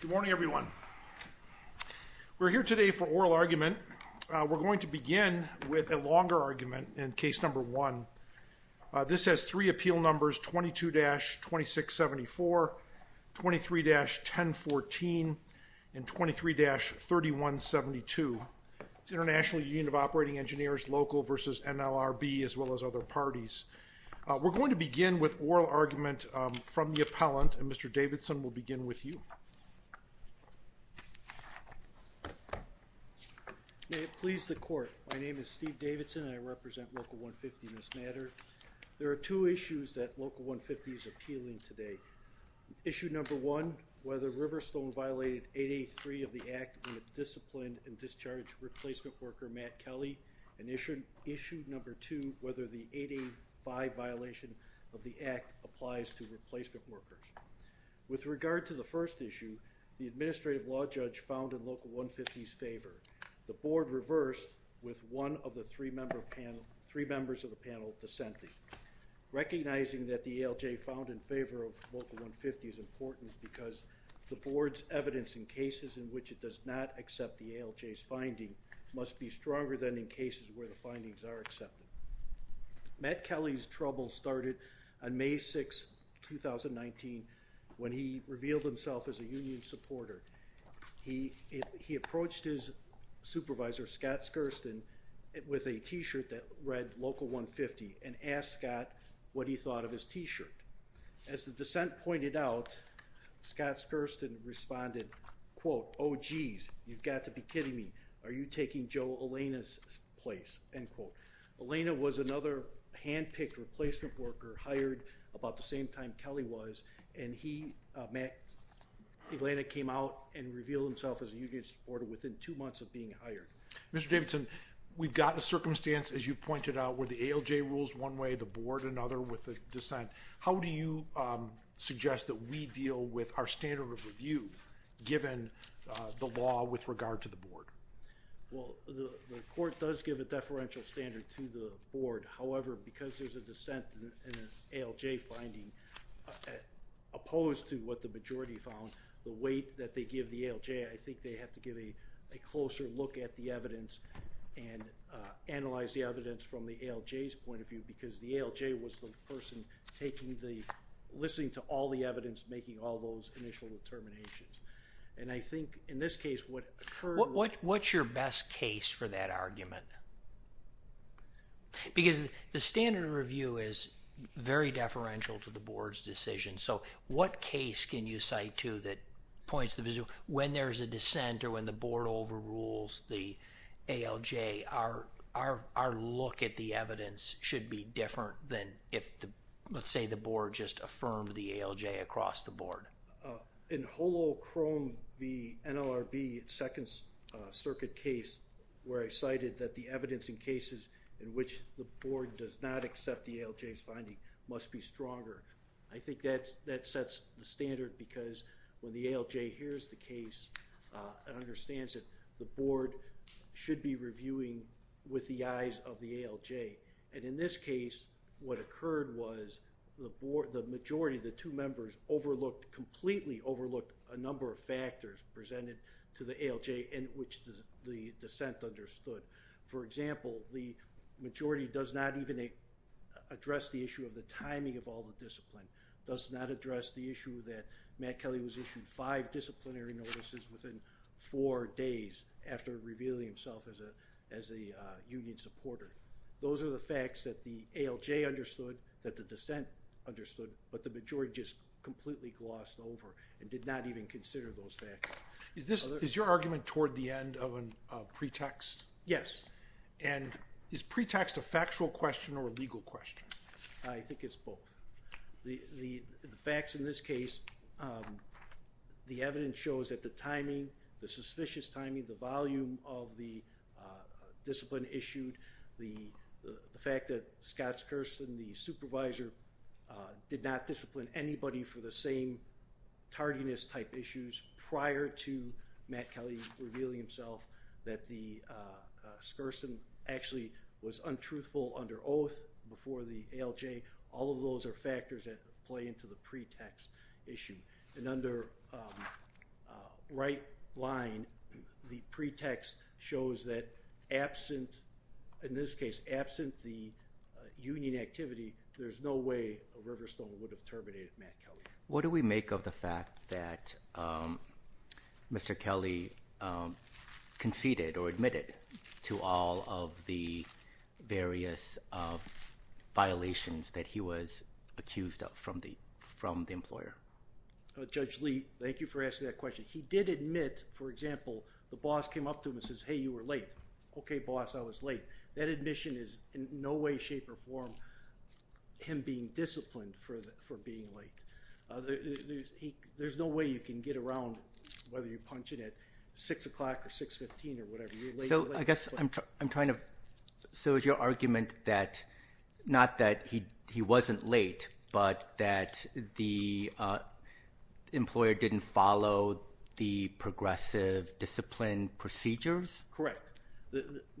Good morning everyone. We're here today for oral argument. We're going to begin with a longer argument in case number one. This has three appeal numbers 22-2674, 23-1014, and 23-3172. It's International Union of Operating Engineers local versus NLRB as well as other parties. We're going to begin with oral argument from the appellant and Mr. Davidson will begin with you. May it please the court. My name is Steve Davidson and I represent Local 150 in this matter. There are two issues that Local 150 is appealing today. Issue number one, whether Riverstone violated 8A3 of the Act and disciplined and discharged replacement worker Matt Kelly. Issue number two, whether the 8A5 violation of the Act applies to replacement workers. With regard to the first issue, the administrative law judge found in Local 150's favor. The board reversed with one of the three members of the panel dissenting. Recognizing that the ALJ found in favor of Local 150 is important because the board's evidence in cases in which it does not accept the ALJ's finding must be stronger than in cases where the findings are accepted. Matt Kelly's trouble started on May 6, 2019 when he revealed himself as a union supporter. He approached his supervisor Scott Skurston with a t-shirt that read Local 150 and asked Scott what he thought of his t-shirt. As the dissent pointed out, Scott Skurston responded, quote, oh geez you've got to be kidding me. Are you taking Joe Elena's place? End quote. Elena was another hand-picked replacement worker hired about the same time Kelly was and he, Matt, Elena came out and revealed himself as a union supporter within two months of being hired. Mr. Davidson, we've got a circumstance as you pointed out where the ALJ rules one way, the board another with the dissent. How do you suggest that we deal with our standard of review given the law with regard to the board? Well, the court does give a deferential standard to the board. However, because there's a dissent in an ALJ finding, opposed to what the majority found, the weight that they give the ALJ, I think they have to give a closer look at the evidence and analyze the evidence from the ALJ's point of view because the ALJ was the person taking the, listening to all the evidence, making all those initial determinations. And I think in this case what occurred. What's your best case for that argument? Because the standard of review is very deferential to the board's decision, so what case can you cite to that points to when there's a dissent or when the board overrules the ALJ, our look at the evidence should be different than if, let's say, the board just affirmed the ALJ across the board. In Holochrome v. NLRB, second circuit case, where I cited that the evidence in cases in which the board does not accept the ALJ's finding must be stronger. I think that sets the standard because when the ALJ hears the case and understands it, the board should be reviewing with the eyes of the board. In this case, what occurred was the majority of the two members overlooked, completely overlooked, a number of factors presented to the ALJ in which the dissent understood. For example, the majority does not even address the issue of the timing of all the discipline, does not address the issue that Matt Kelly was issued five disciplinary notices within four days after revealing himself as a union supporter. Those are the facts that the ALJ understood, that the dissent understood, but the majority just completely glossed over and did not even consider those facts. Is your argument toward the end of a pretext? Yes. And is pretext a factual question or a legal question? I think it's both. The facts in this case, the evidence shows that the timing, the suspicious timing, the volume of the discipline issued, the fact that Scott Skurston, the supervisor, did not discipline anybody for the same tardiness type issues prior to Matt Kelly revealing himself, that Skurston actually was untruthful under oath before the ALJ. All of those are factors that play into the pretext issue. And under right line, the pretext shows that absent, in this case, absent the union activity, there's no way a Riverstone would have terminated Matt Kelly. What do we make of the fact that Mr. Kelly conceded or admitted to all of the various violations that he was accused of from the employer? Judge Lee, thank you for asking that question. He did admit, for example, the boss came up to him and says, hey, you were late. Okay, boss, I was late. That admission is in no way, shape, or form him being disciplined for being late. There's no way you can get around whether you're punching at 6 o'clock or 6.15 or whatever. So I guess I'm trying to, so is your argument that, not that he wasn't late, but that the employer didn't follow the progressive discipline procedures? Correct.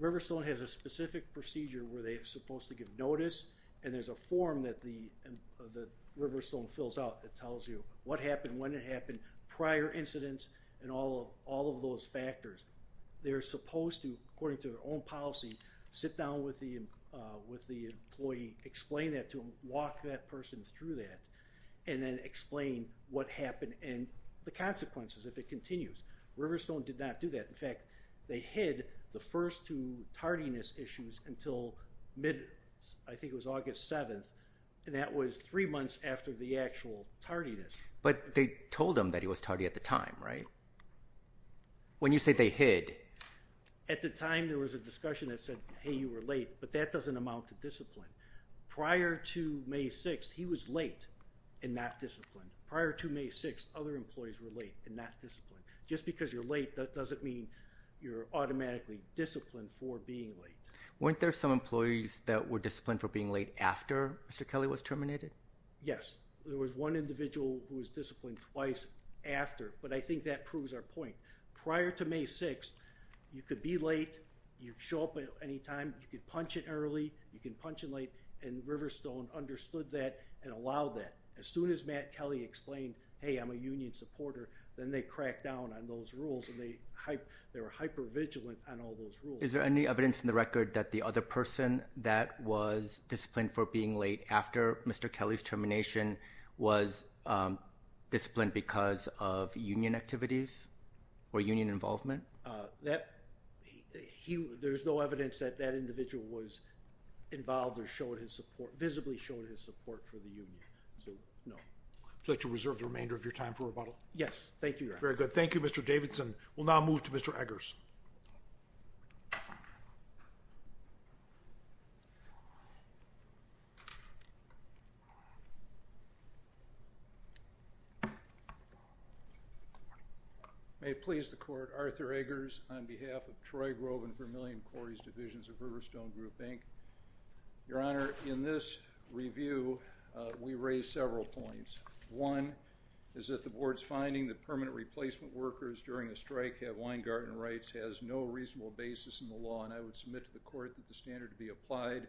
Riverstone has a specific procedure where they're supposed to give notice and there's a form that the Riverstone fills out that tells you what happened, when it happened, prior incidents, and all of those factors. They're supposed to, according to their own policy, sit down with the employee, explain that to him, walk that person through that, and then explain what happened and the consequences if it continues. Riverstone did not do that. In fact, they hid the first two tardiness issues until mid, I think it was August 7th, and that was three months after the actual tardiness. But they told him that he was tardy at the time, right? When you say they hid. At the time, there was a discussion that said, hey, you were late, but that doesn't amount to discipline. Prior to May 6th, he was late in that discipline. Prior to May 6th, other employees were late in that discipline. Just because you're late, that doesn't mean you're automatically disciplined for being late. Weren't there some employees that were disciplined for being late after Mr. Kelly was disciplined twice after? But I think that proves our point. Prior to May 6th, you could be late, you'd show up at any time, you could punch it early, you can punch it late, and Riverstone understood that and allowed that. As soon as Matt Kelly explained, hey, I'm a union supporter, then they cracked down on those rules and they were hyper vigilant on all those rules. Is there any evidence in the record that the other person that was disciplined for being late after Mr. Kelly's termination was disciplined because of union activities or union involvement? There's no evidence that that individual was involved or showed his support, visibly showed his support for the union. Would you like to reserve the remainder of your time for rebuttal? Yes, thank you. Very good. Thank you, Mr. Davidson. We'll now move to Mr. Eggers. May it please the court, Arthur Eggers on behalf of Troy Grove and Vermilion Quarries Divisions of Riverstone Group, Inc. Your Honor, in this review we raised several points. One is that the board's finding that permanent replacement workers during a strike have wine garden rights has no reasonable basis in the law, and I would submit to the court that the standard to be applied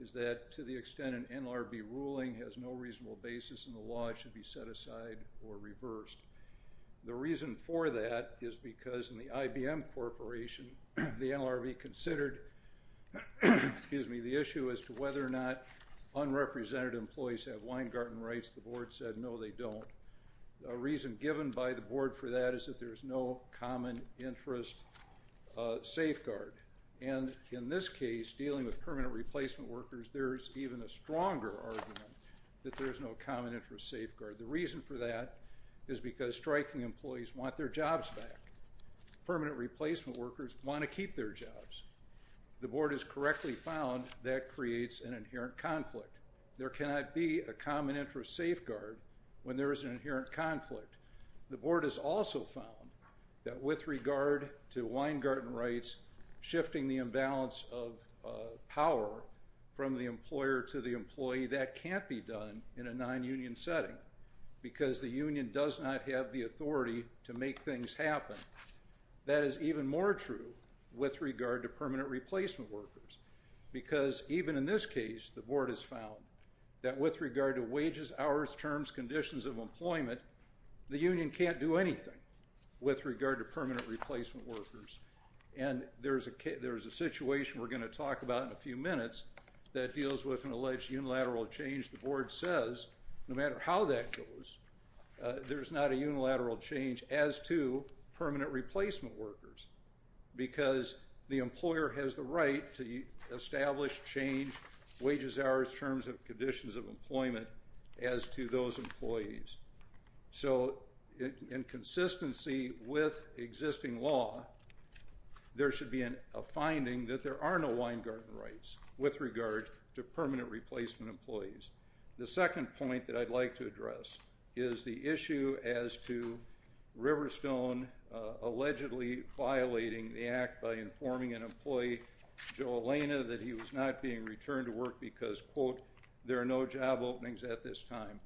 is that to the extent an NLRB ruling has no reasonable basis in the law, it should be set aside or reversed. The reason for that is because in the IBM Corporation, the NLRB considered, excuse me, the issue as to whether or not unrepresented employees have wine garden rights. The board said no, they don't. A reason given by the board for that is that there's no common interest safeguard, and in this case, dealing with permanent replacement workers, there's even a stronger argument that there's no common interest safeguard. The reason for that is because striking employees want their jobs back. Permanent replacement workers want to keep their jobs. The board has correctly found that creates an inherent conflict. There cannot be a common interest safeguard when there is an inherent conflict. The board has also found that with regard to wine garden rights, shifting the imbalance of power from the employer to the employee, that can't be done in a non-union setting because the union does not have the authority to make things happen. That is even more true with regard to permanent replacement workers because even in this case, the board has found that with regard to wages, hours, terms, conditions of employment, the union can't do anything with regard to permanent replacement workers, and there's a situation we're going to talk about in a few minutes that deals with an alleged unilateral change. The board says no matter how that goes, there's not a unilateral change as to permanent replacement workers because the employer has the right to establish change, wages, hours, terms, and conditions of employment as to those employees. So in consistency with existing law, there should be a finding that there are no wine garden rights with regard to permanent replacement employees. The second point that I'd like to address is the issue as to Riverstone allegedly violating the act by informing an employee, Joe Elena, that he was not being returned to work because, quote, there are no job openings at this time.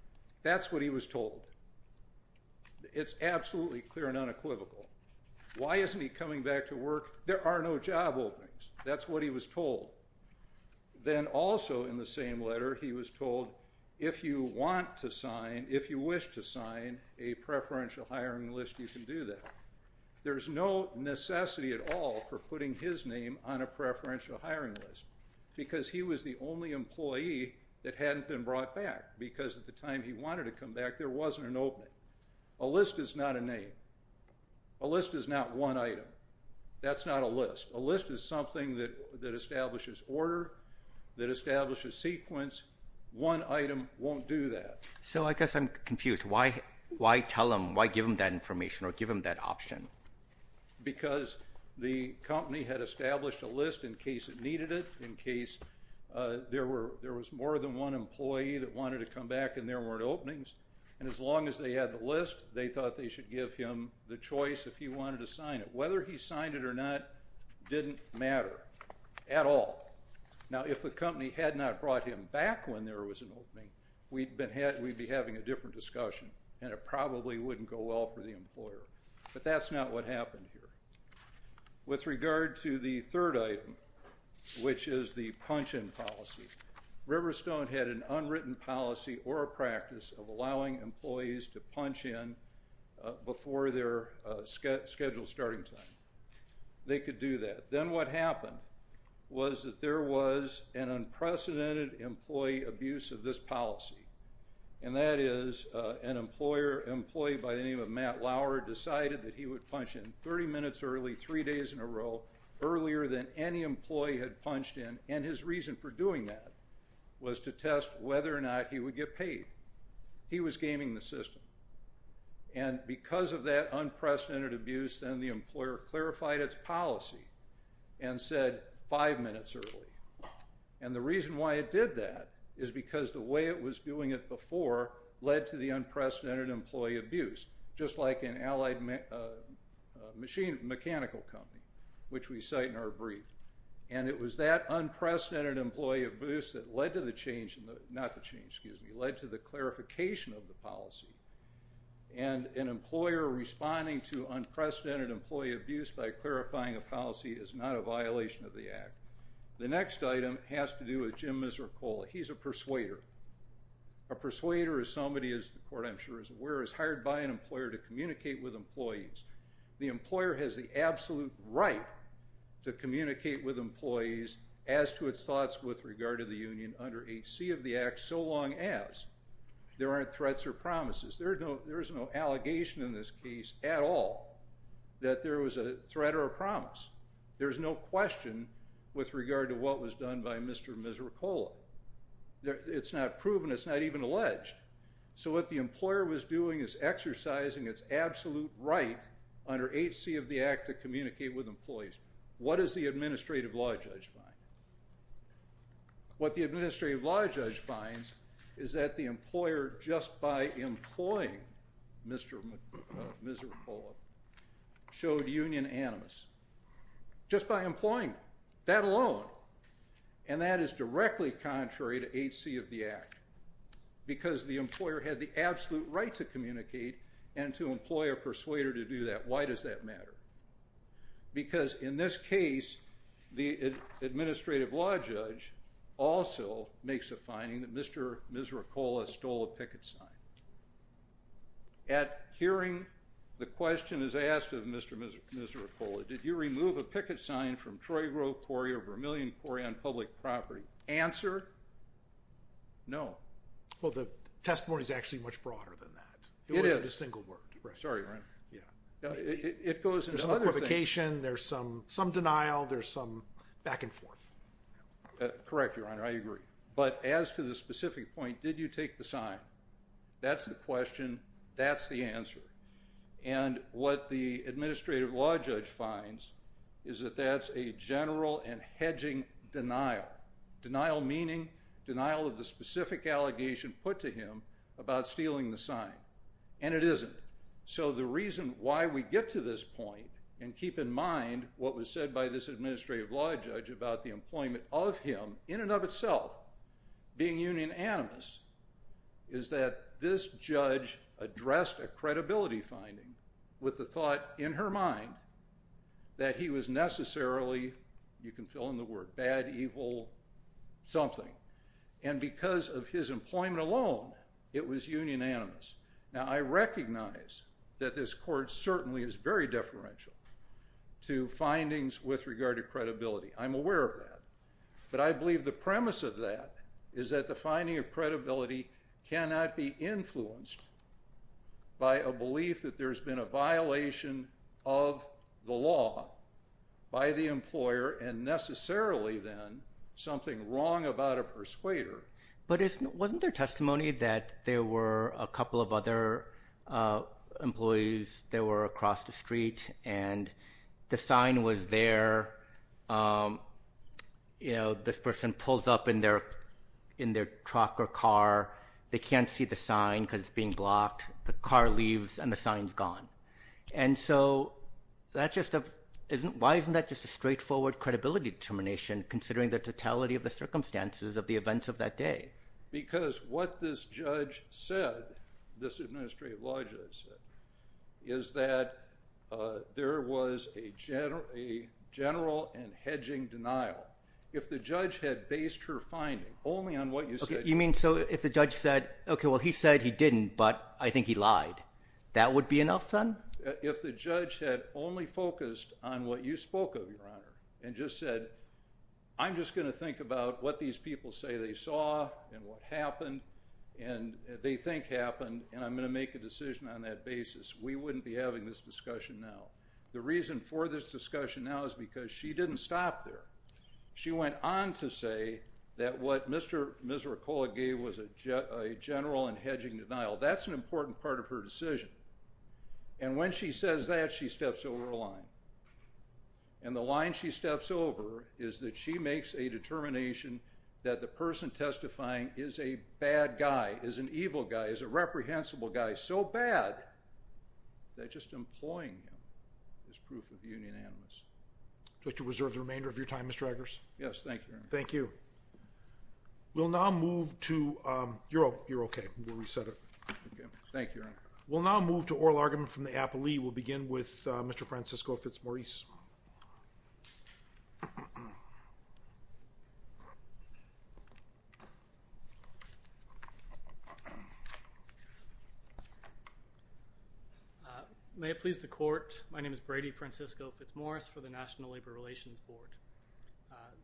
That's what he was told. It's absolutely clear and unequivocal. Why isn't he coming back to work? There are no job openings. That's what he was told. Then also in the same letter, he was told if you want to sign, if you wish to sign a preferential hiring list, you can do that. There's no necessity at all for putting his name on a preferential hiring list because he was the only one to come back because at the time he wanted to come back, there wasn't an opening. A list is not a name. A list is not one item. That's not a list. A list is something that establishes order, that establishes sequence. One item won't do that. So I guess I'm confused. Why tell him, why give him that information or give him that option? Because the company had established a list in case it needed it, in case there were, there was more than one employee that wanted to come back and there weren't openings. And as long as they had the list, they thought they should give him the choice if he wanted to sign it. Whether he signed it or not didn't matter at all. Now if the company had not brought him back when there was an opening, we'd been had, we'd be having a different discussion and it probably wouldn't go well for the employer. But that's not what happened here. With regard to the third item, which is the punch-in policy, Riverstone had an unwritten policy or a practice of allowing employees to punch in before their scheduled starting time. They could do that. Then what happened was that there was an unprecedented employee abuse of this policy and that is an employer, employee by the name of Matt Lauer, decided that he would punch in 30 minutes early, three days in a row, earlier than any employee had punched in and his reason for doing that was to test whether or not he would get paid. He was gaming the system. And because of that unprecedented abuse, then the employer clarified its policy and said five minutes early. And the reason why it did that is because the way it was doing it before led to the unprecedented employee abuse, just like an Allied Machine Mechanical Company, which we cite in our brief. And it was that unprecedented employee abuse that led to the change in the, not the change, excuse me, led to the clarification of the policy. And an employer responding to unprecedented employee abuse by clarifying a policy is not a violation of the Act. The next item has to do with Jim Misericola. He's a persuader. A persuader is somebody, as the court I'm aware, is hired by an employer to communicate with employees. The employer has the absolute right to communicate with employees as to its thoughts with regard to the union under H.C. of the Act, so long as there aren't threats or promises. There's no allegation in this case at all that there was a threat or a promise. There's no question with regard to what was done by Mr. Misericola. It's not proven, it's not even alleged. So what the employer was doing is exercising its absolute right under H.C. of the Act to communicate with employees. What does the administrative law judge find? What the administrative law judge finds is that the employer, just by employing Mr. Misericola, showed union animus. Just by employing that alone. And that is directly contrary to H.C. of the Act, because the employer had the absolute right to communicate and to employ a persuader to do that. Why does that matter? Because in this case, the administrative law judge also makes a finding that Mr. Misericola stole a picket sign. At hearing, the question is asked of Mr. Misericola, did you remove a picket sign from Troy Grove Quarry or Vermilion Quarry on public property? Answer, no. Well, the testimony is actually much broader than that. It is. It wasn't a single word. Sorry, your honor. Yeah. It goes into another thing. There's some qualification, there's some denial, there's some back and forth. Correct, your honor. I agree. But as to the specific point, did you take the sign? That's the question, that's the answer. And what the administrative law judge finds is that that's a general and hedging denial. Denial meaning denial of the specific allegation put to him about stealing the sign. And it isn't. So the reason why we get to this point, and keep in mind what was said by this administrative law judge about the employment of him, in and of itself, being union animus, is that this judge addressed a credibility finding with the thought in her mind that he was necessarily, you can fill in the word, bad, evil, something. And because of his employment alone, it was union animus. Now, I recognize that this court certainly is very deferential to findings with regard to credibility. I'm aware of that. But I believe the premise of that is that the finding of credibility cannot be influenced by a belief that there's been a violation of the law by the employer, and necessarily, then, something wrong about a persuader. But wasn't there testimony that there were a couple of other employees that were across the street, and the sign was there, you know, this person pulls up in their truck or car, they can't see the sign because it's being blocked, the car leaves, and the sign's gone. And so, that's just a... why isn't that just a straightforward credibility determination, considering the totality of the circumstances of the events of that day? Because what this judge said, this administrative law judge said, is that there was a general and hedging denial. If the judge had based her on what she said, she would have said, no, I didn't, but I think he lied. That would be enough, then? If the judge had only focused on what you spoke of, Your Honor, and just said, I'm just going to think about what these people say they saw, and what happened, and they think happened, and I'm going to make a decision on that basis, we wouldn't be having this discussion now. The reason for this discussion now is because she didn't stop there. She went on to say that what Mr. Misricola gave was a general and hedging denial. That's an important part of her decision. And when she says that, she steps over a line. And the line she steps over is that she makes a determination that the person testifying is a bad guy, is an evil guy, is a reprehensible guy, so bad that just employing him is proof of union animus. I'd like to reserve the remainder of your time, Mr. Eggers. Yes, thank you. Thank you. We'll now move to, you're okay, we'll reset it. Thank you, Your Honor. We'll now move to oral argument from the applee. We'll begin with Mr. Francisco Fitzmaurice. May it please the Court, my name is Brady Francisco Fitzmaurice for the National Labor Relations Board.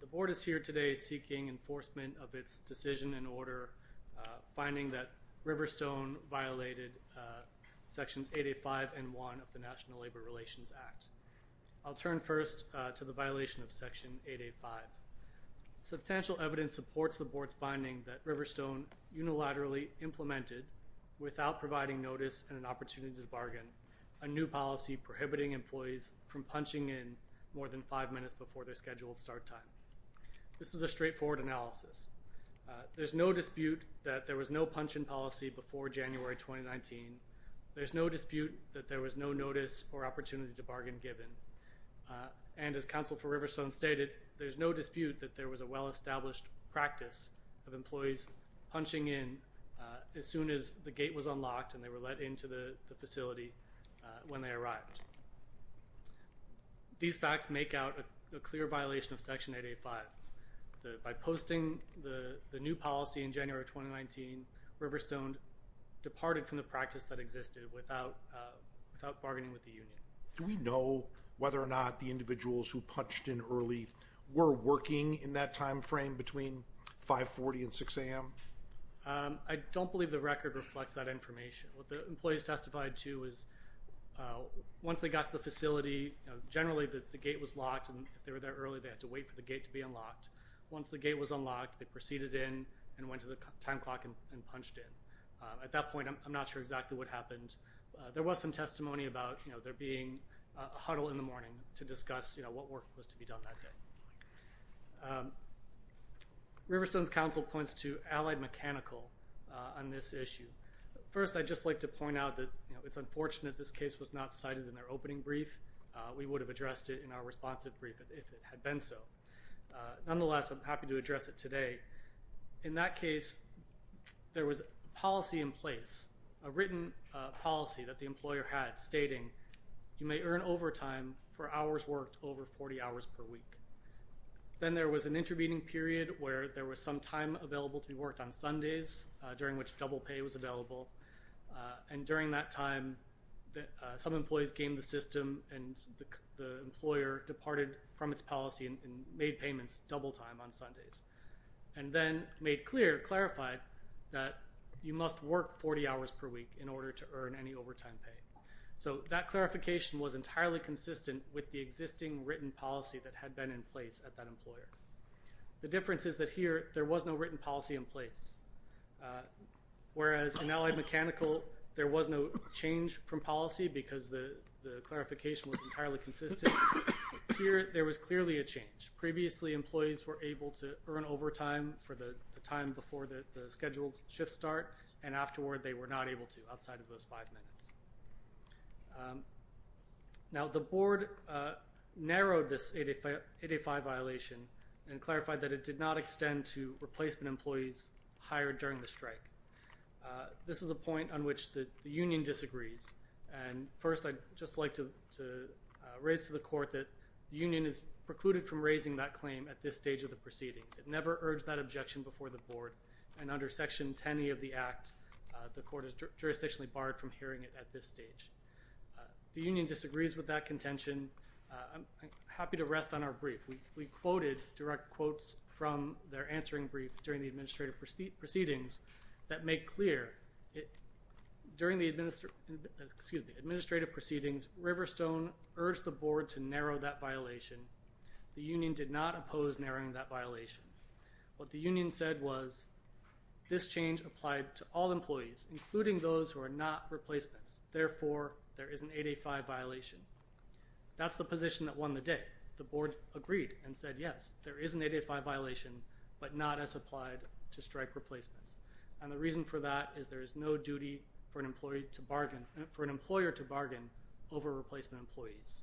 The Board is here today seeking enforcement of its decision in order, finding that Riverstone violated Sections 885 and 1 of the National Labor Relations Act. I'll turn first to the violation of Section 885. Substantial evidence supports the Board's finding that Riverstone unilaterally implemented, without providing notice and an opportunity to five minutes before their scheduled start time. This is a straightforward analysis. There's no dispute that there was no punch-in policy before January 2019. There's no dispute that there was no notice or opportunity to bargain given, and as counsel for Riverstone stated, there's no dispute that there was a well-established practice of employees punching in as soon as the gate was unlocked and they were let into the facility when they arrived. These facts make out a clear violation of Section 885. By posting the the new policy in January 2019, Riverstone departed from the practice that existed without bargaining with the union. Do we know whether or not the individuals who punched in early were working in that time frame between 540 and 6 a.m.? I don't believe the record reflects that information. What the employees testified to is, once they got to the facility, generally the gate was locked and they were there early, they had to wait for the gate to be unlocked. Once the gate was unlocked, they proceeded in and went to the time clock and punched in. At that point, I'm not sure exactly what happened. There was some testimony about, you know, there being a huddle in the morning to discuss, you know, what work was to be done that day. Riverstone's counsel points to allied mechanical on this It's unfortunate this case was not cited in their opening brief. We would have addressed it in our responsive brief if it had been so. Nonetheless, I'm happy to address it today. In that case, there was policy in place, a written policy that the employer had stating, you may earn overtime for hours worked over 40 hours per week. Then there was an intervening period where there was some time available to be worked on Sundays, during which double pay was available, and during that time, some employees gamed the system and the employer departed from its policy and made payments double time on Sundays, and then made clear, clarified, that you must work 40 hours per week in order to earn any overtime pay. So that clarification was entirely consistent with the existing written policy that had been in place at that employer. The difference is that here, there was no written policy in place, whereas in allied mechanical, there was no change from policy because the clarification was entirely consistent. Here, there was clearly a change. Previously, employees were able to earn overtime for the time before the scheduled shift start, and afterward, they were not able to outside of those five minutes. Now, the board narrowed this 885 violation and clarified that it did not extend to replacement employees hired during the strike. This is a point on which the union disagrees, and first, I'd just like to raise to the court that the union is precluded from raising that claim at this stage of the proceedings. It never urged that objection before the board, and under Section 10e of the Act, the court is jurisdictionally barred from hearing it at this stage. The union disagrees with that contention. I'm happy to rest on our brief. We quoted direct quotes from their answering brief during the administrative proceedings that make clear it during the administrative proceedings, Riverstone urged the board to narrow that violation. The union did not oppose narrowing that violation. What the union said was, this change applied to all employees, including those who are not replacements. Therefore, there is an 885 violation. That's the position that won the day. The board agreed and said, yes, there is an 885 violation, but not as applied to strike replacements. And the reason for that is there is no duty for an employee to bargain, for an employer to bargain over replacement employees.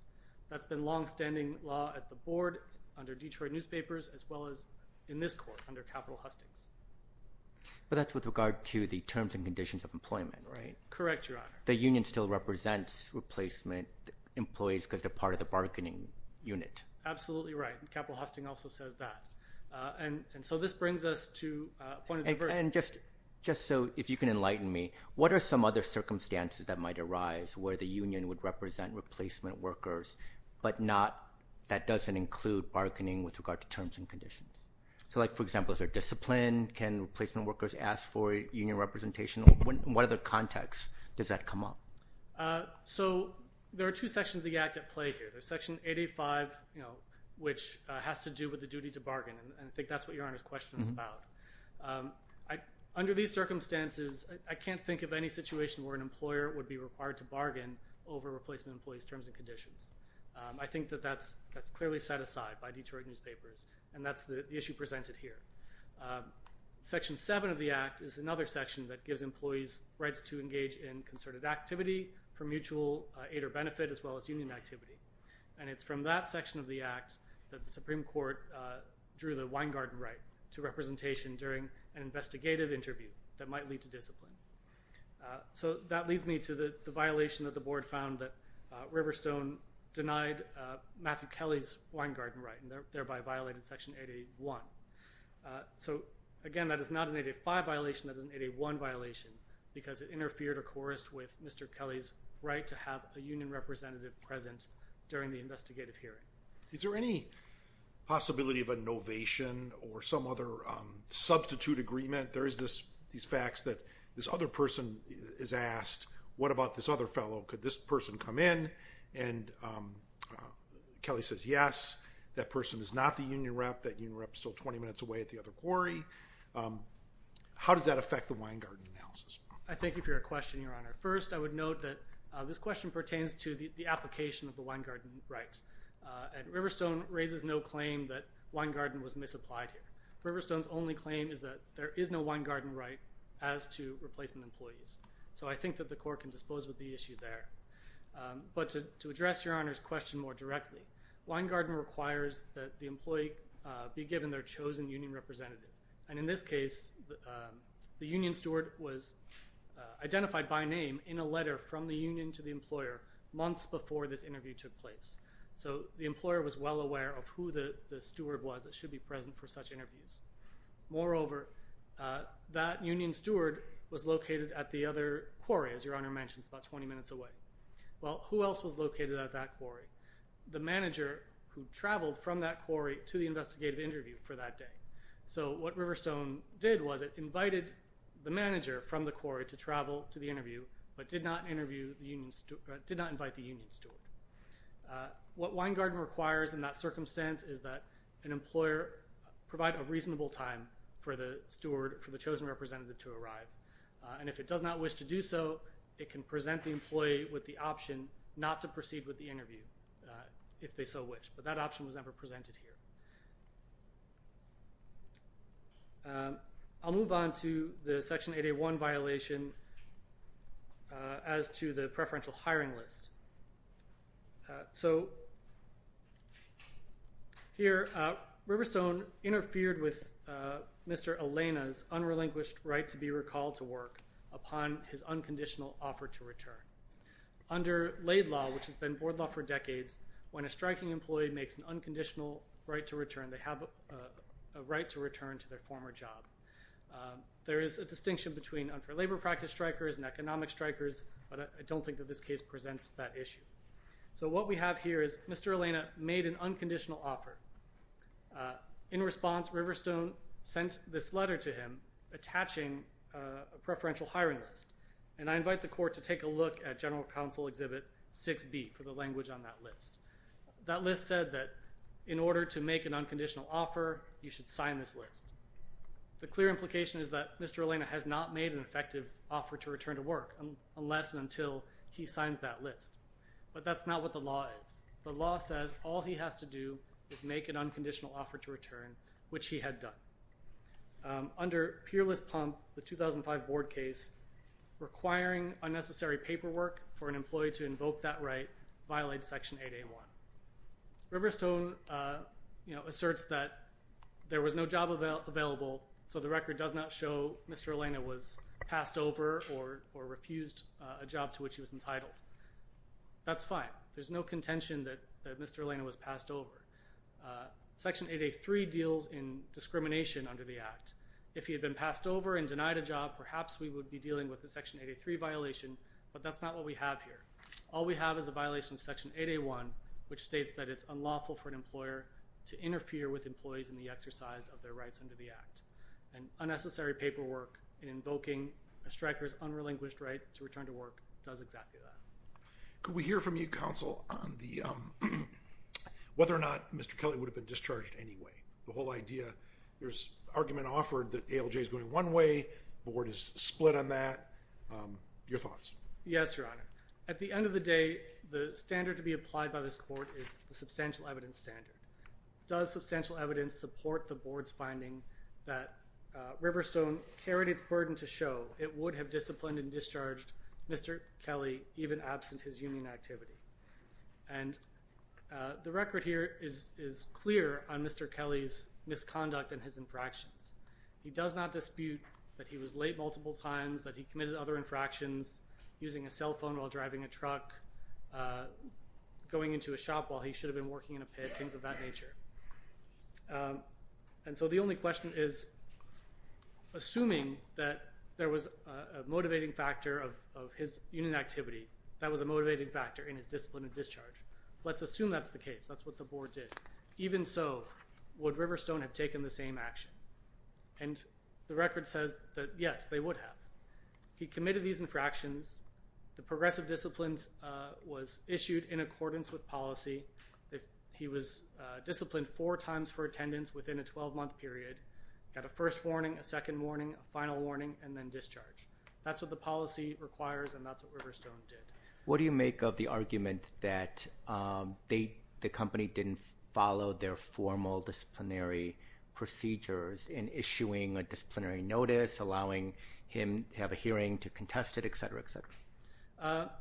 That's been long-standing law at the board, under Detroit newspapers, as well as in this court under capital hustings. But that's with regard to the terms and conditions of employment, right? Correct, Your Honor. The union still represents replacement employees because they're part of the bargaining unit. Absolutely right. Capital hosting also says that. And so this brings us to a point of divergence. And just so, if you can enlighten me, what are some other circumstances that might arise where the union would represent replacement workers, but that doesn't include bargaining with regard to terms and conditions? So like, for example, is there discipline? Can replacement workers ask for union representation? What other context does that come up? So there are two sections of the Act at play here. There's Section 885, you know, which has to do with the duty to bargain. And I think that's what Your Honor's question is about. Under these circumstances, I can't think of any situation where an employer would be required to bargain over replacement employees' terms and conditions. I think that that's clearly set aside by Detroit newspapers, and that's the issue presented here. Section 7 of the Act is another section that gives employees rights to engage in concerted activity for mutual aid or benefit, as well as union activity. And it's from that section of the Act that the Supreme Court drew the Weingarten right to representation during an investigative interview that might lead to discipline. So that leads me to the violation that the Board found that Riverstone denied Matthew Kelly's violated Section 881. So again, that is not an 885 violation, that is an 881 violation, because it interfered or coerced with Mr. Kelly's right to have a union representative present during the investigative hearing. Is there any possibility of a novation or some other substitute agreement? There is this, these facts that this other person is asked, what about this other fellow? Could this union rep, that union rep, still 20 minutes away at the other quarry? How does that affect the Weingarten analysis? I thank you for your question, Your Honor. First, I would note that this question pertains to the application of the Weingarten rights, and Riverstone raises no claim that Weingarten was misapplied here. Riverstone's only claim is that there is no Weingarten right as to replacement employees. So I think that the Court can dispose of the issue there. But to address Your Honor's question more directly, Weingarten requires that the employee be given their chosen union representative. And in this case, the union steward was identified by name in a letter from the union to the employer months before this interview took place. So the employer was well aware of who the steward was that should be present for such interviews. Moreover, that union steward was located at the other quarry, as Your Honor mentions, about 20 minutes away. Well, who else was located at that quarry? The manager who traveled from that quarry to the investigative interview for that day. So what Riverstone did was it invited the manager from the quarry to travel to the interview, but did not invite the union steward. What Weingarten requires in that circumstance is that an employer provide a reasonable time for the steward, for the chosen representative, to arrive. And if it does not wish to do so, it can present the employee with the option not to proceed with the interview, if they so wish. But that option was never presented here. I'll move on to the Section 8A1 violation as to the preferential hiring list. So here, Riverstone interfered with Mr. Elena's unrelinquished right to be recalled to work upon his unconditional offer to return. Under Laid Law, which has been board law for decades, when a striking employee makes an unconditional right to return, they have a right to return to their former job. There is a distinction between unfair labor practice strikers and economic strikers, but I don't think that this case presents that issue. So what we have here is Mr. Elena made an unconditional offer. In response, Riverstone sent this letter to him attaching a preferential hiring list. And I invite the court to take a look at General Counsel Exhibit 6B for the list said that, in order to make an unconditional offer, you should sign this list. The clear implication is that Mr. Elena has not made an effective offer to return to work, unless and until he signs that list. But that's not what the law is. The law says all he has to do is make an unconditional offer to return, which he had done. Under Peerless Pump, the 2005 board case, requiring unnecessary paperwork for an employee to invoke that right, violates Section 8A1. Riverstone, you know, asserts that there was no job available, so the record does not show Mr. Elena was passed over or refused a job to which he was entitled. That's fine. There's no contention that Mr. Elena was passed over. Section 8A3 deals in discrimination under the Act. If he had been passed over and denied a job, perhaps we would be dealing with the that's not what we have here. All we have is a violation of Section 8A1, which states that it's unlawful for an employer to interfere with employees in the exercise of their rights under the Act. And unnecessary paperwork in invoking a striker's unrelinquished right to return to work does exactly that. Could we hear from you, Counsel, on whether or not Mr. Kelly would have been discharged anyway? The whole idea, there's argument offered that ALJ is going one way, the Board is split on that. Your thoughts? Yes, Your Honor. At the end of the day, the standard to be applied by this Court is the substantial evidence standard. Does substantial evidence support the Board's finding that Riverstone carried its burden to show it would have disciplined and discharged Mr. Kelly even absent his union activity? And the record here is clear on Mr. Kelly's infractions. He does not dispute that he was late multiple times, that he committed other infractions, using a cell phone while driving a truck, going into a shop while he should have been working in a pit, things of that nature. And so the only question is, assuming that there was a motivating factor of his union activity, that was a motivating factor in his discipline of discharge, let's assume that's the case, that's what the Board did. Even so, would Riverstone have taken the same action? And the record says that yes, they would have. He committed these infractions, the progressive discipline was issued in accordance with policy, he was disciplined four times for attendance within a 12-month period, got a first warning, a second warning, a final warning, and then discharge. That's what the policy requires and that's what Riverstone did. What do you make of the procedures in issuing a disciplinary notice, allowing him to have a hearing to contest it, etc., etc.?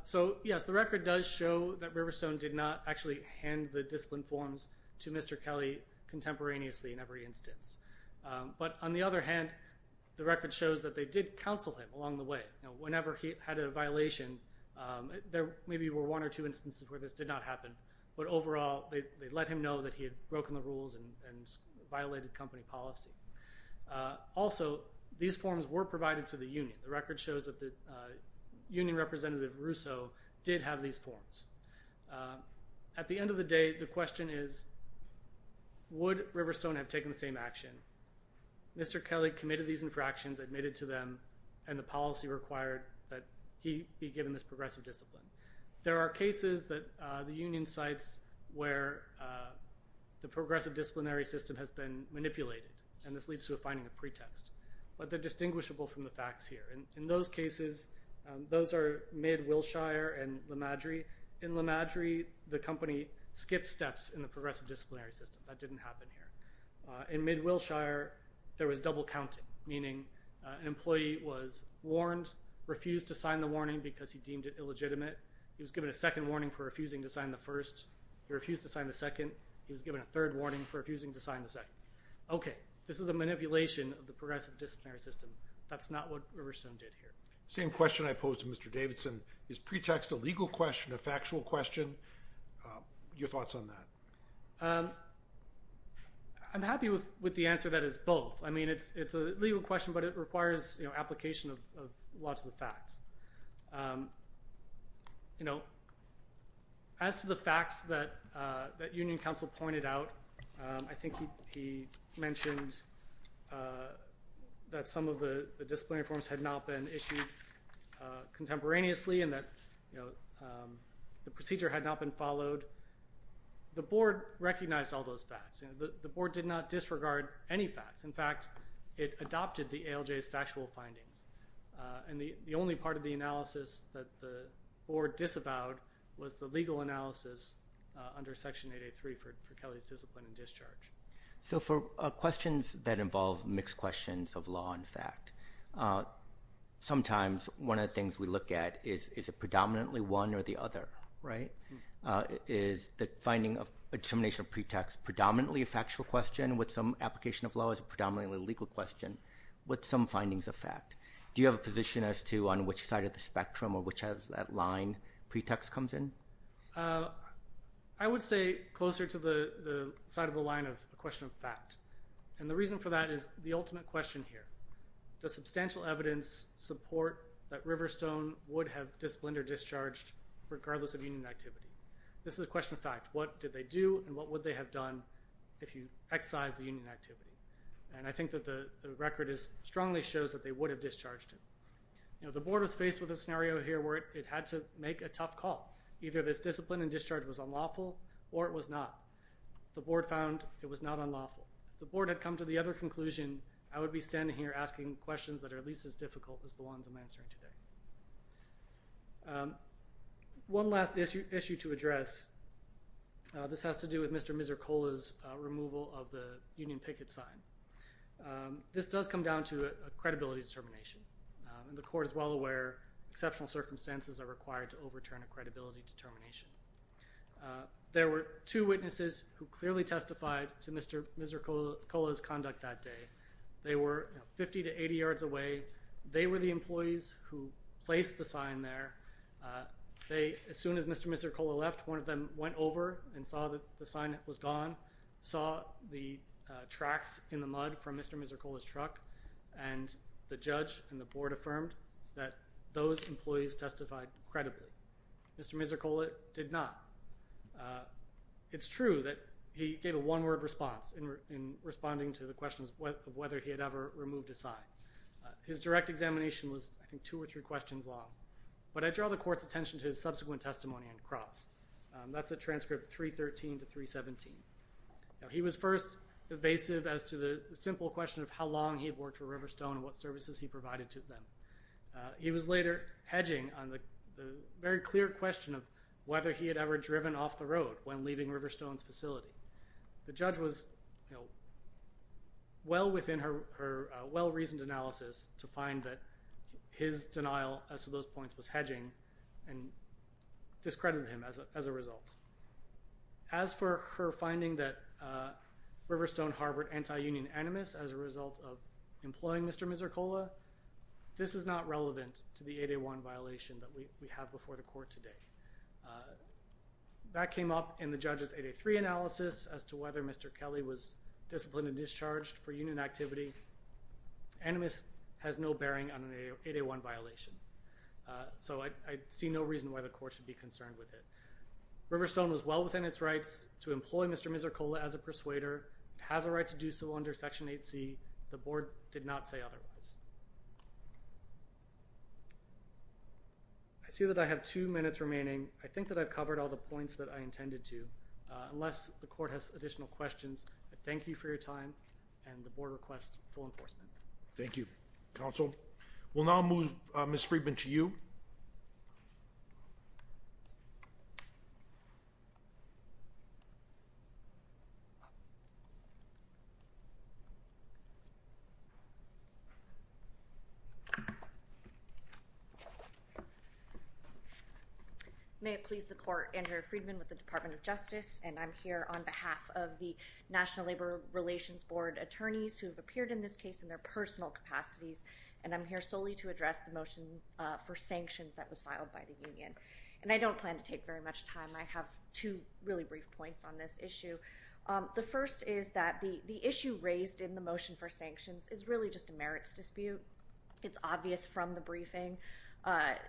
So yes, the record does show that Riverstone did not actually hand the discipline forms to Mr. Kelly contemporaneously in every instance. But on the other hand, the record shows that they did counsel him along the way. Whenever he had a violation, there maybe were one or two instances where this did not happen, but overall they let him know that he had company policy. Also, these forms were provided to the Union. The record shows that the Union representative Rousseau did have these forms. At the end of the day, the question is, would Riverstone have taken the same action? Mr. Kelly committed these infractions, admitted to them, and the policy required that he be given this progressive discipline. There are cases that the Union cites where the leads to a finding of pretext, but they're distinguishable from the facts here. In those cases, those are mid-Wilshire and Le Madre. In Le Madre, the company skipped steps in the progressive disciplinary system. That didn't happen here. In mid-Wilshire, there was double counting, meaning an employee was warned, refused to sign the warning because he deemed it illegitimate, he was given a second warning for refusing to sign the first, he refused to sign the second, he was given a second warning. This is a manipulation of the progressive disciplinary system. That's not what Riverstone did here. Same question I posed to Mr. Davidson. Is pretext a legal question, a factual question? Your thoughts on that? I'm happy with the answer that it's both. I mean, it's a legal question, but it requires application of law to the facts. You know, as to the facts that Union Council pointed out, I think he mentioned that some of the disciplinary forms had not been issued contemporaneously and that the procedure had not been followed. The board recognized all those facts. The board did not disregard any facts. In fact, it was part of the analysis that the board disavowed was the legal analysis under Section 883 for Kelly's discipline and discharge. So for questions that involve mixed questions of law and fact, sometimes one of the things we look at is, is it predominantly one or the other, right? Is the finding of a determination of pretext predominantly a factual question with some application of law as a predominantly legal question with some findings of fact? Do you have a position as to on which side of the spectrum or which of that line pretext comes in? I would say closer to the side of the line of a question of fact, and the reason for that is the ultimate question here. Does substantial evidence support that Riverstone would have disciplined or discharged regardless of Union activity? This is a question of fact. What did they do and what would they have done if you excise the Union activity? And I think that the record is strongly shows that they would have discharged it. You know, the board was faced with a scenario here where it had to make a tough call. Either this discipline and discharge was unlawful or it was not. The board found it was not unlawful. The board had come to the other conclusion, I would be standing here asking questions that are at least as difficult as the ones I'm answering today. One last issue to address, this has to do with Mr. Misercola's removal of the Union picket sign. This does come down to a credibility determination and the court is well aware exceptional circumstances are required to overturn a credibility determination. There were two witnesses who clearly testified to Mr. Misercola's conduct that day. They were 50 to 80 yards away. They were the employees who placed the sign there. As soon as Mr. Misercola left, one of them went over and saw that the sign that was gone, saw the tracks in the mud from Mr. Misercola's truck, and the judge and the board affirmed that those employees testified credibly. Mr. Misercola did not. It's true that he gave a one-word response in responding to the questions of whether he had ever removed his sign. His direct examination was I think two or three questions long, but I draw the court's attention to his subsequent testimony and cross. That's a transcript 313 to 317. He was first evasive as to the simple question of how long he'd worked for Riverstone and what services he provided to them. He was later hedging on the very clear question of whether he had ever driven off the road when leaving Riverstone's facility. The judge was well within her well-reasoned analysis to find that his denial as to those points was hedging and discredited him as a result. As for her finding that Riverstone harbored anti-union animus as a result of employing Mr. Misercola, this is not relevant to the 8A1 violation that we have before the court today. That came up in the judge's 8A3 analysis as to whether Mr. Kelly was disciplined and discharged for union activity. Animus has no bearing on an 8A1 violation, so I see no reason why the court should be concerned with it. Riverstone was well within its rights to employ Mr. Misercola as a persuader. It has a right to do so under Section 8C. The board did not say otherwise. I see that I have two minutes remaining. I think that I've covered all the points that I intended to. Unless the court has additional questions, I thank you for your time and the board requests full enforcement. Thank you, counsel. We'll now move Ms. Friedman to you. May it please the court, Andrea Friedman with the Department of Justice, and I'm here on behalf of the National Labor Relations Board attorneys who have appeared in this case in their personal capacities, and I'm here solely to for sanctions that was filed by the union, and I don't plan to take very much time. I have two really brief points on this issue. The first is that the issue raised in the motion for sanctions is really just a merits dispute. It's obvious from the briefing,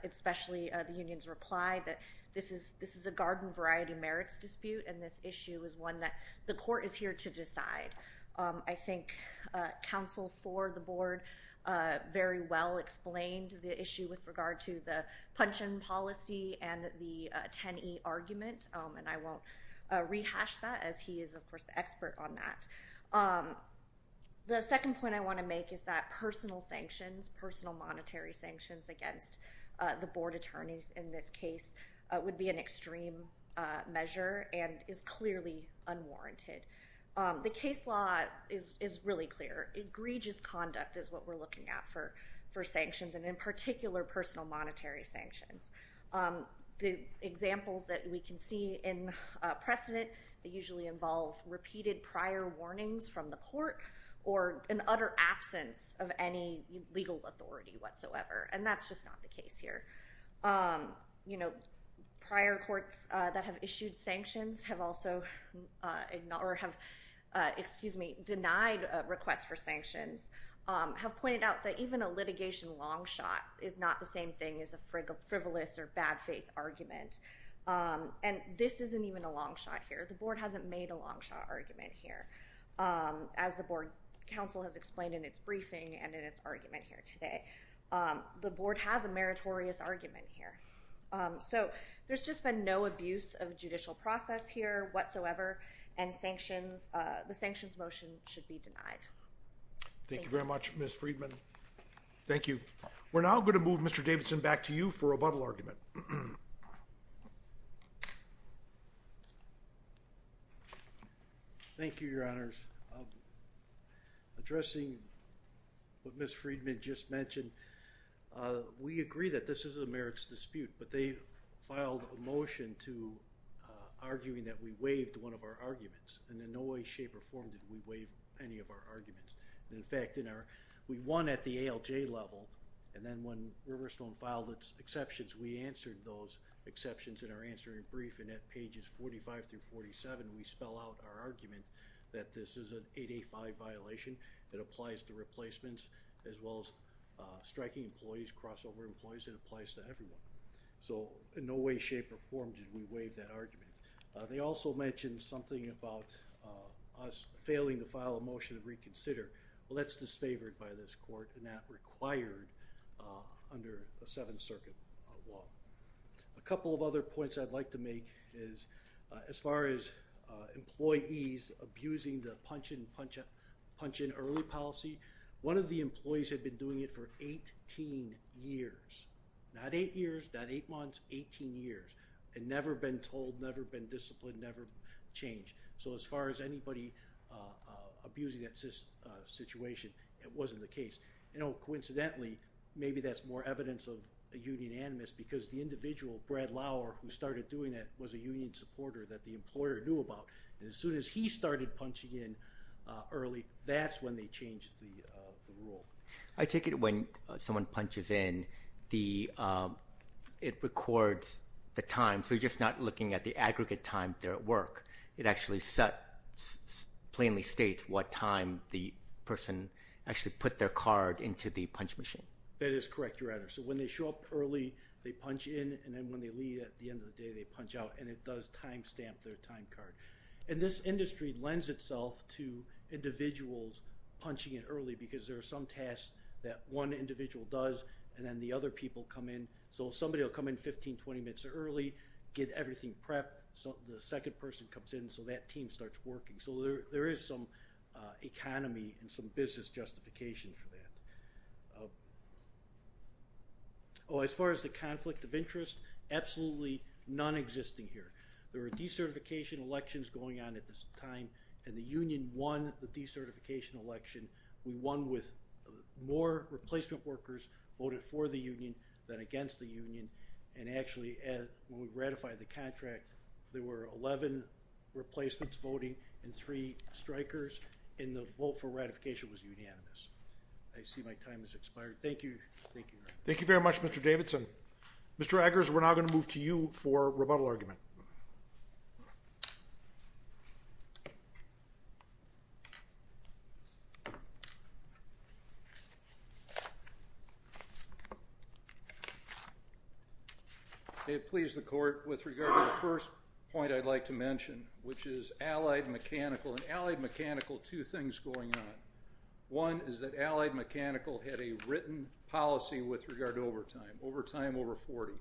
especially the union's reply that this is this is a garden variety merits dispute, and this issue is one that the court is here to discuss with regard to the pension policy and the 10e argument, and I won't rehash that as he is, of course, the expert on that. The second point I want to make is that personal sanctions, personal monetary sanctions against the board attorneys in this case would be an extreme measure and is clearly unwarranted. The case law is really clear. Egregious conduct is what we're talking about with personal monetary sanctions. The examples that we can see in precedent, they usually involve repeated prior warnings from the court or an utter absence of any legal authority whatsoever, and that's just not the case here. You know, prior courts that have issued sanctions have also ignored or have, excuse me, denied requests for sanctions, have pointed out that even a thing is a frivolous or bad faith argument, and this isn't even a long shot here. The board hasn't made a long shot argument here, as the board counsel has explained in its briefing and in its argument here today. The board has a meritorious argument here, so there's just been no abuse of judicial process here whatsoever, and sanctions, the sanctions motion should be denied. Thank you very much, Ms. Freedman. Thank you. We're now going to move Mr. Davidson back to you for a buttle argument. Thank you, Your Honors. Addressing what Ms. Freedman just mentioned, we agree that this is a merits dispute, but they filed a motion to arguing that we waived one of our arguments, and in no way, shape, or form did we waive any of our arguments. In fact, in our, we won at the ALJ level, and then when Riverstone filed its exceptions, we answered those exceptions in our answering brief, and at pages 45 through 47, we spell out our argument that this is an 8A5 violation that applies to replacements, as well as striking employees, crossover employees, it applies to everyone. So in no way, shape, or form did we waive that argument. They also mentioned something about us failing to file a motion to reconsider. Well, that's disfavored by this court, and that required under a Seventh Circuit law. A couple of other points I'd like to make is, as far as employees abusing the punch-in, punch-out, punch-in early policy, one of the employees had been doing it for 18 years, not eight years, not eight months, 18 years, and never been told, never been disciplined, never changed. So as far as anybody abusing that situation, it wasn't the case. You know, coincidentally, maybe that's more evidence of a union animus, because the individual, Brad Lauer, who started doing it was a union supporter that the employer knew about, and as soon as he started punching in early, that's when they changed the rule. I take it when someone punches in, it records the time, so you're just not looking at the aggregate time they're at work. It actually set, plainly states what time the person actually put their card into the punch machine. That is correct, your Honor. So when they show up early, they punch in, and then when they leave at the end of the day, they punch out, and it does time stamp their time card. And this industry lends itself to individuals punching in early, because there are some tasks that one individual does, and then the other people come in. So somebody will come in 15, 20 minutes early, get everything prepped, so the second person comes in, so that team starts working. So there is some economy and some business justification for that. Oh, as far as the conflict of interest, absolutely none existing here. There were decertification elections going on at this time, and the more replacement workers voted for the union than against the union, and actually, when we ratified the contract, there were 11 replacements voting and three strikers, and the vote for ratification was unanimous. I see my time has expired. Thank you. Thank you very much, Mr. Davidson. Mr. Eggers, we're now going to move to you for rebuttal argument. May it please the court, with regard to the first point I'd like to mention, which is Allied Mechanical. In Allied Mechanical, two things going on. One is that Allied Mechanical had a written policy with regard to overtime. Overtime over 40.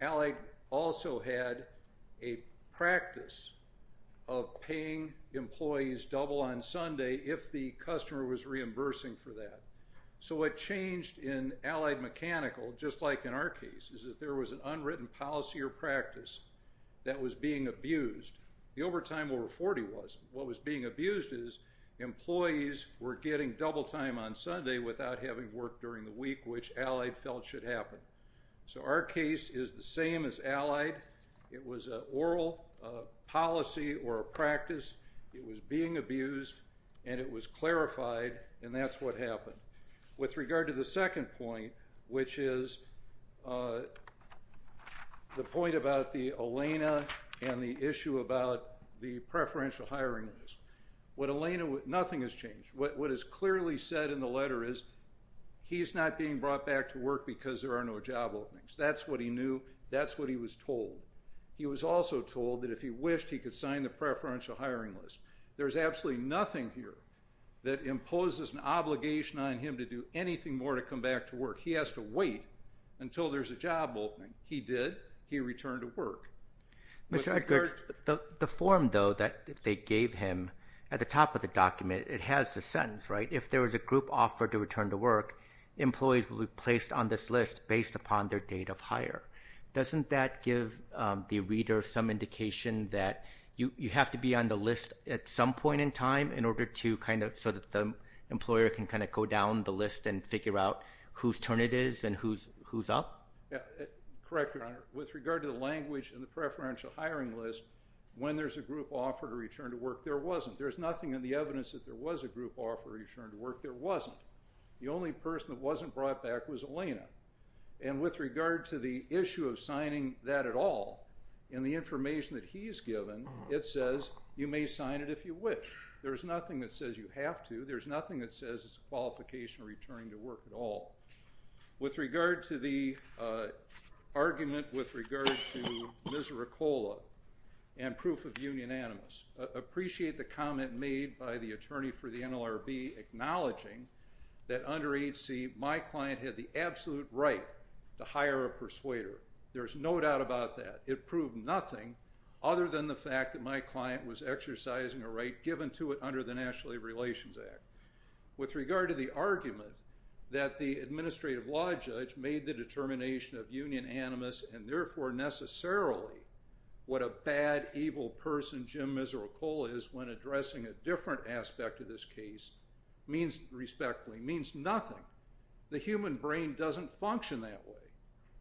Allied also had a practice of paying employees double on Sunday if the So what changed in Allied Mechanical, just like in our case, is that there was an unwritten policy or practice that was being abused. The overtime over 40 was. What was being abused is employees were getting double time on Sunday without having worked during the week, which Allied felt should happen. So our case is the same as Allied. It was an oral policy or a practice. It was being abused, and it was clarified, and that's what happened. With regard to the second point, which is the point about the Elena and the issue about the preferential hiring list. With Elena, nothing has changed. What is clearly said in the letter is he's not being brought back to work because there are no job openings. That's what he knew. That's what he was told. He was also told that if he wished, he could sign the that imposes an obligation on him to do anything more to come back to work. He has to wait until there's a job opening. He did. He returned to work. Mr. Edgar, the form, though, that they gave him at the top of the document, it has a sentence, right? If there was a group offered to return to work, employees will be placed on this list based upon their date of hire. Doesn't that give the reader some indication that you have to be on the list at some point in time in order to kind of, so that the employer can kind of go down the list and figure out whose turn it is and who's up? Correct, Your Honor. With regard to the language and the preferential hiring list, when there's a group offer to return to work, there wasn't. There's nothing in the evidence that there was a group offer to return to work. There wasn't. The only person that wasn't brought back was Elena, and with regard to the issue of signing that at all, in the information that he's given, it says you may sign it if you wish. There's nothing that says you have to. There's nothing that says it's a qualification return to work at all. With regard to the argument with regard to Misericola and proof of union animus, I appreciate the comment made by the attorney for the NLRB acknowledging that under HC, my client had the absolute right to hire a persuader. There's no doubt about that. It proved nothing other than the fact that my client was exercising a right given to it under the National Labor Relations Act. With regard to the argument that the administrative law judge made the determination of union animus, and therefore necessarily what a bad, evil person Jim Misericola is when addressing a different aspect of this case, means, respectfully, means nothing. The human brain doesn't function that way.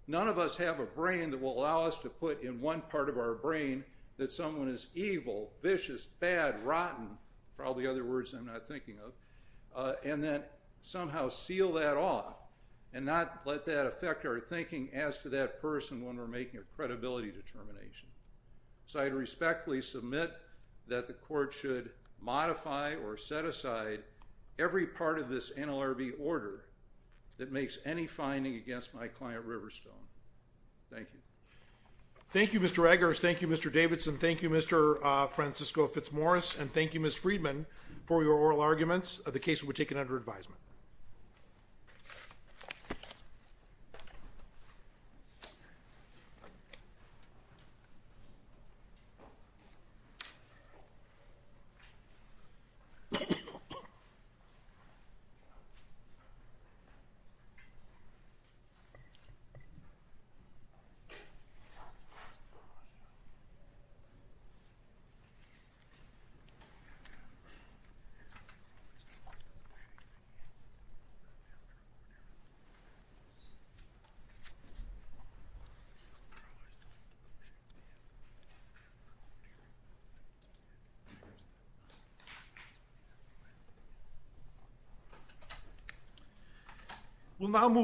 None of us have a brain that will allow us to put in one part of our brain that someone is evil, vicious, bad, rotten, probably other words I'm not thinking of, and then somehow seal that off and not let that affect our thinking as to that person when we're making a credibility determination. So I respectfully submit that the court should modify or set aside every part of this NLRB order that makes any finding against my client Riverstone. Thank you. Thank You Mr. Eggers, thank you Mr. Davidson, thank you Mr. Francisco Fitzmaurice, and thank you Ms. Friedman for your oral arguments of the case we've taken under advisement. p. We will now move.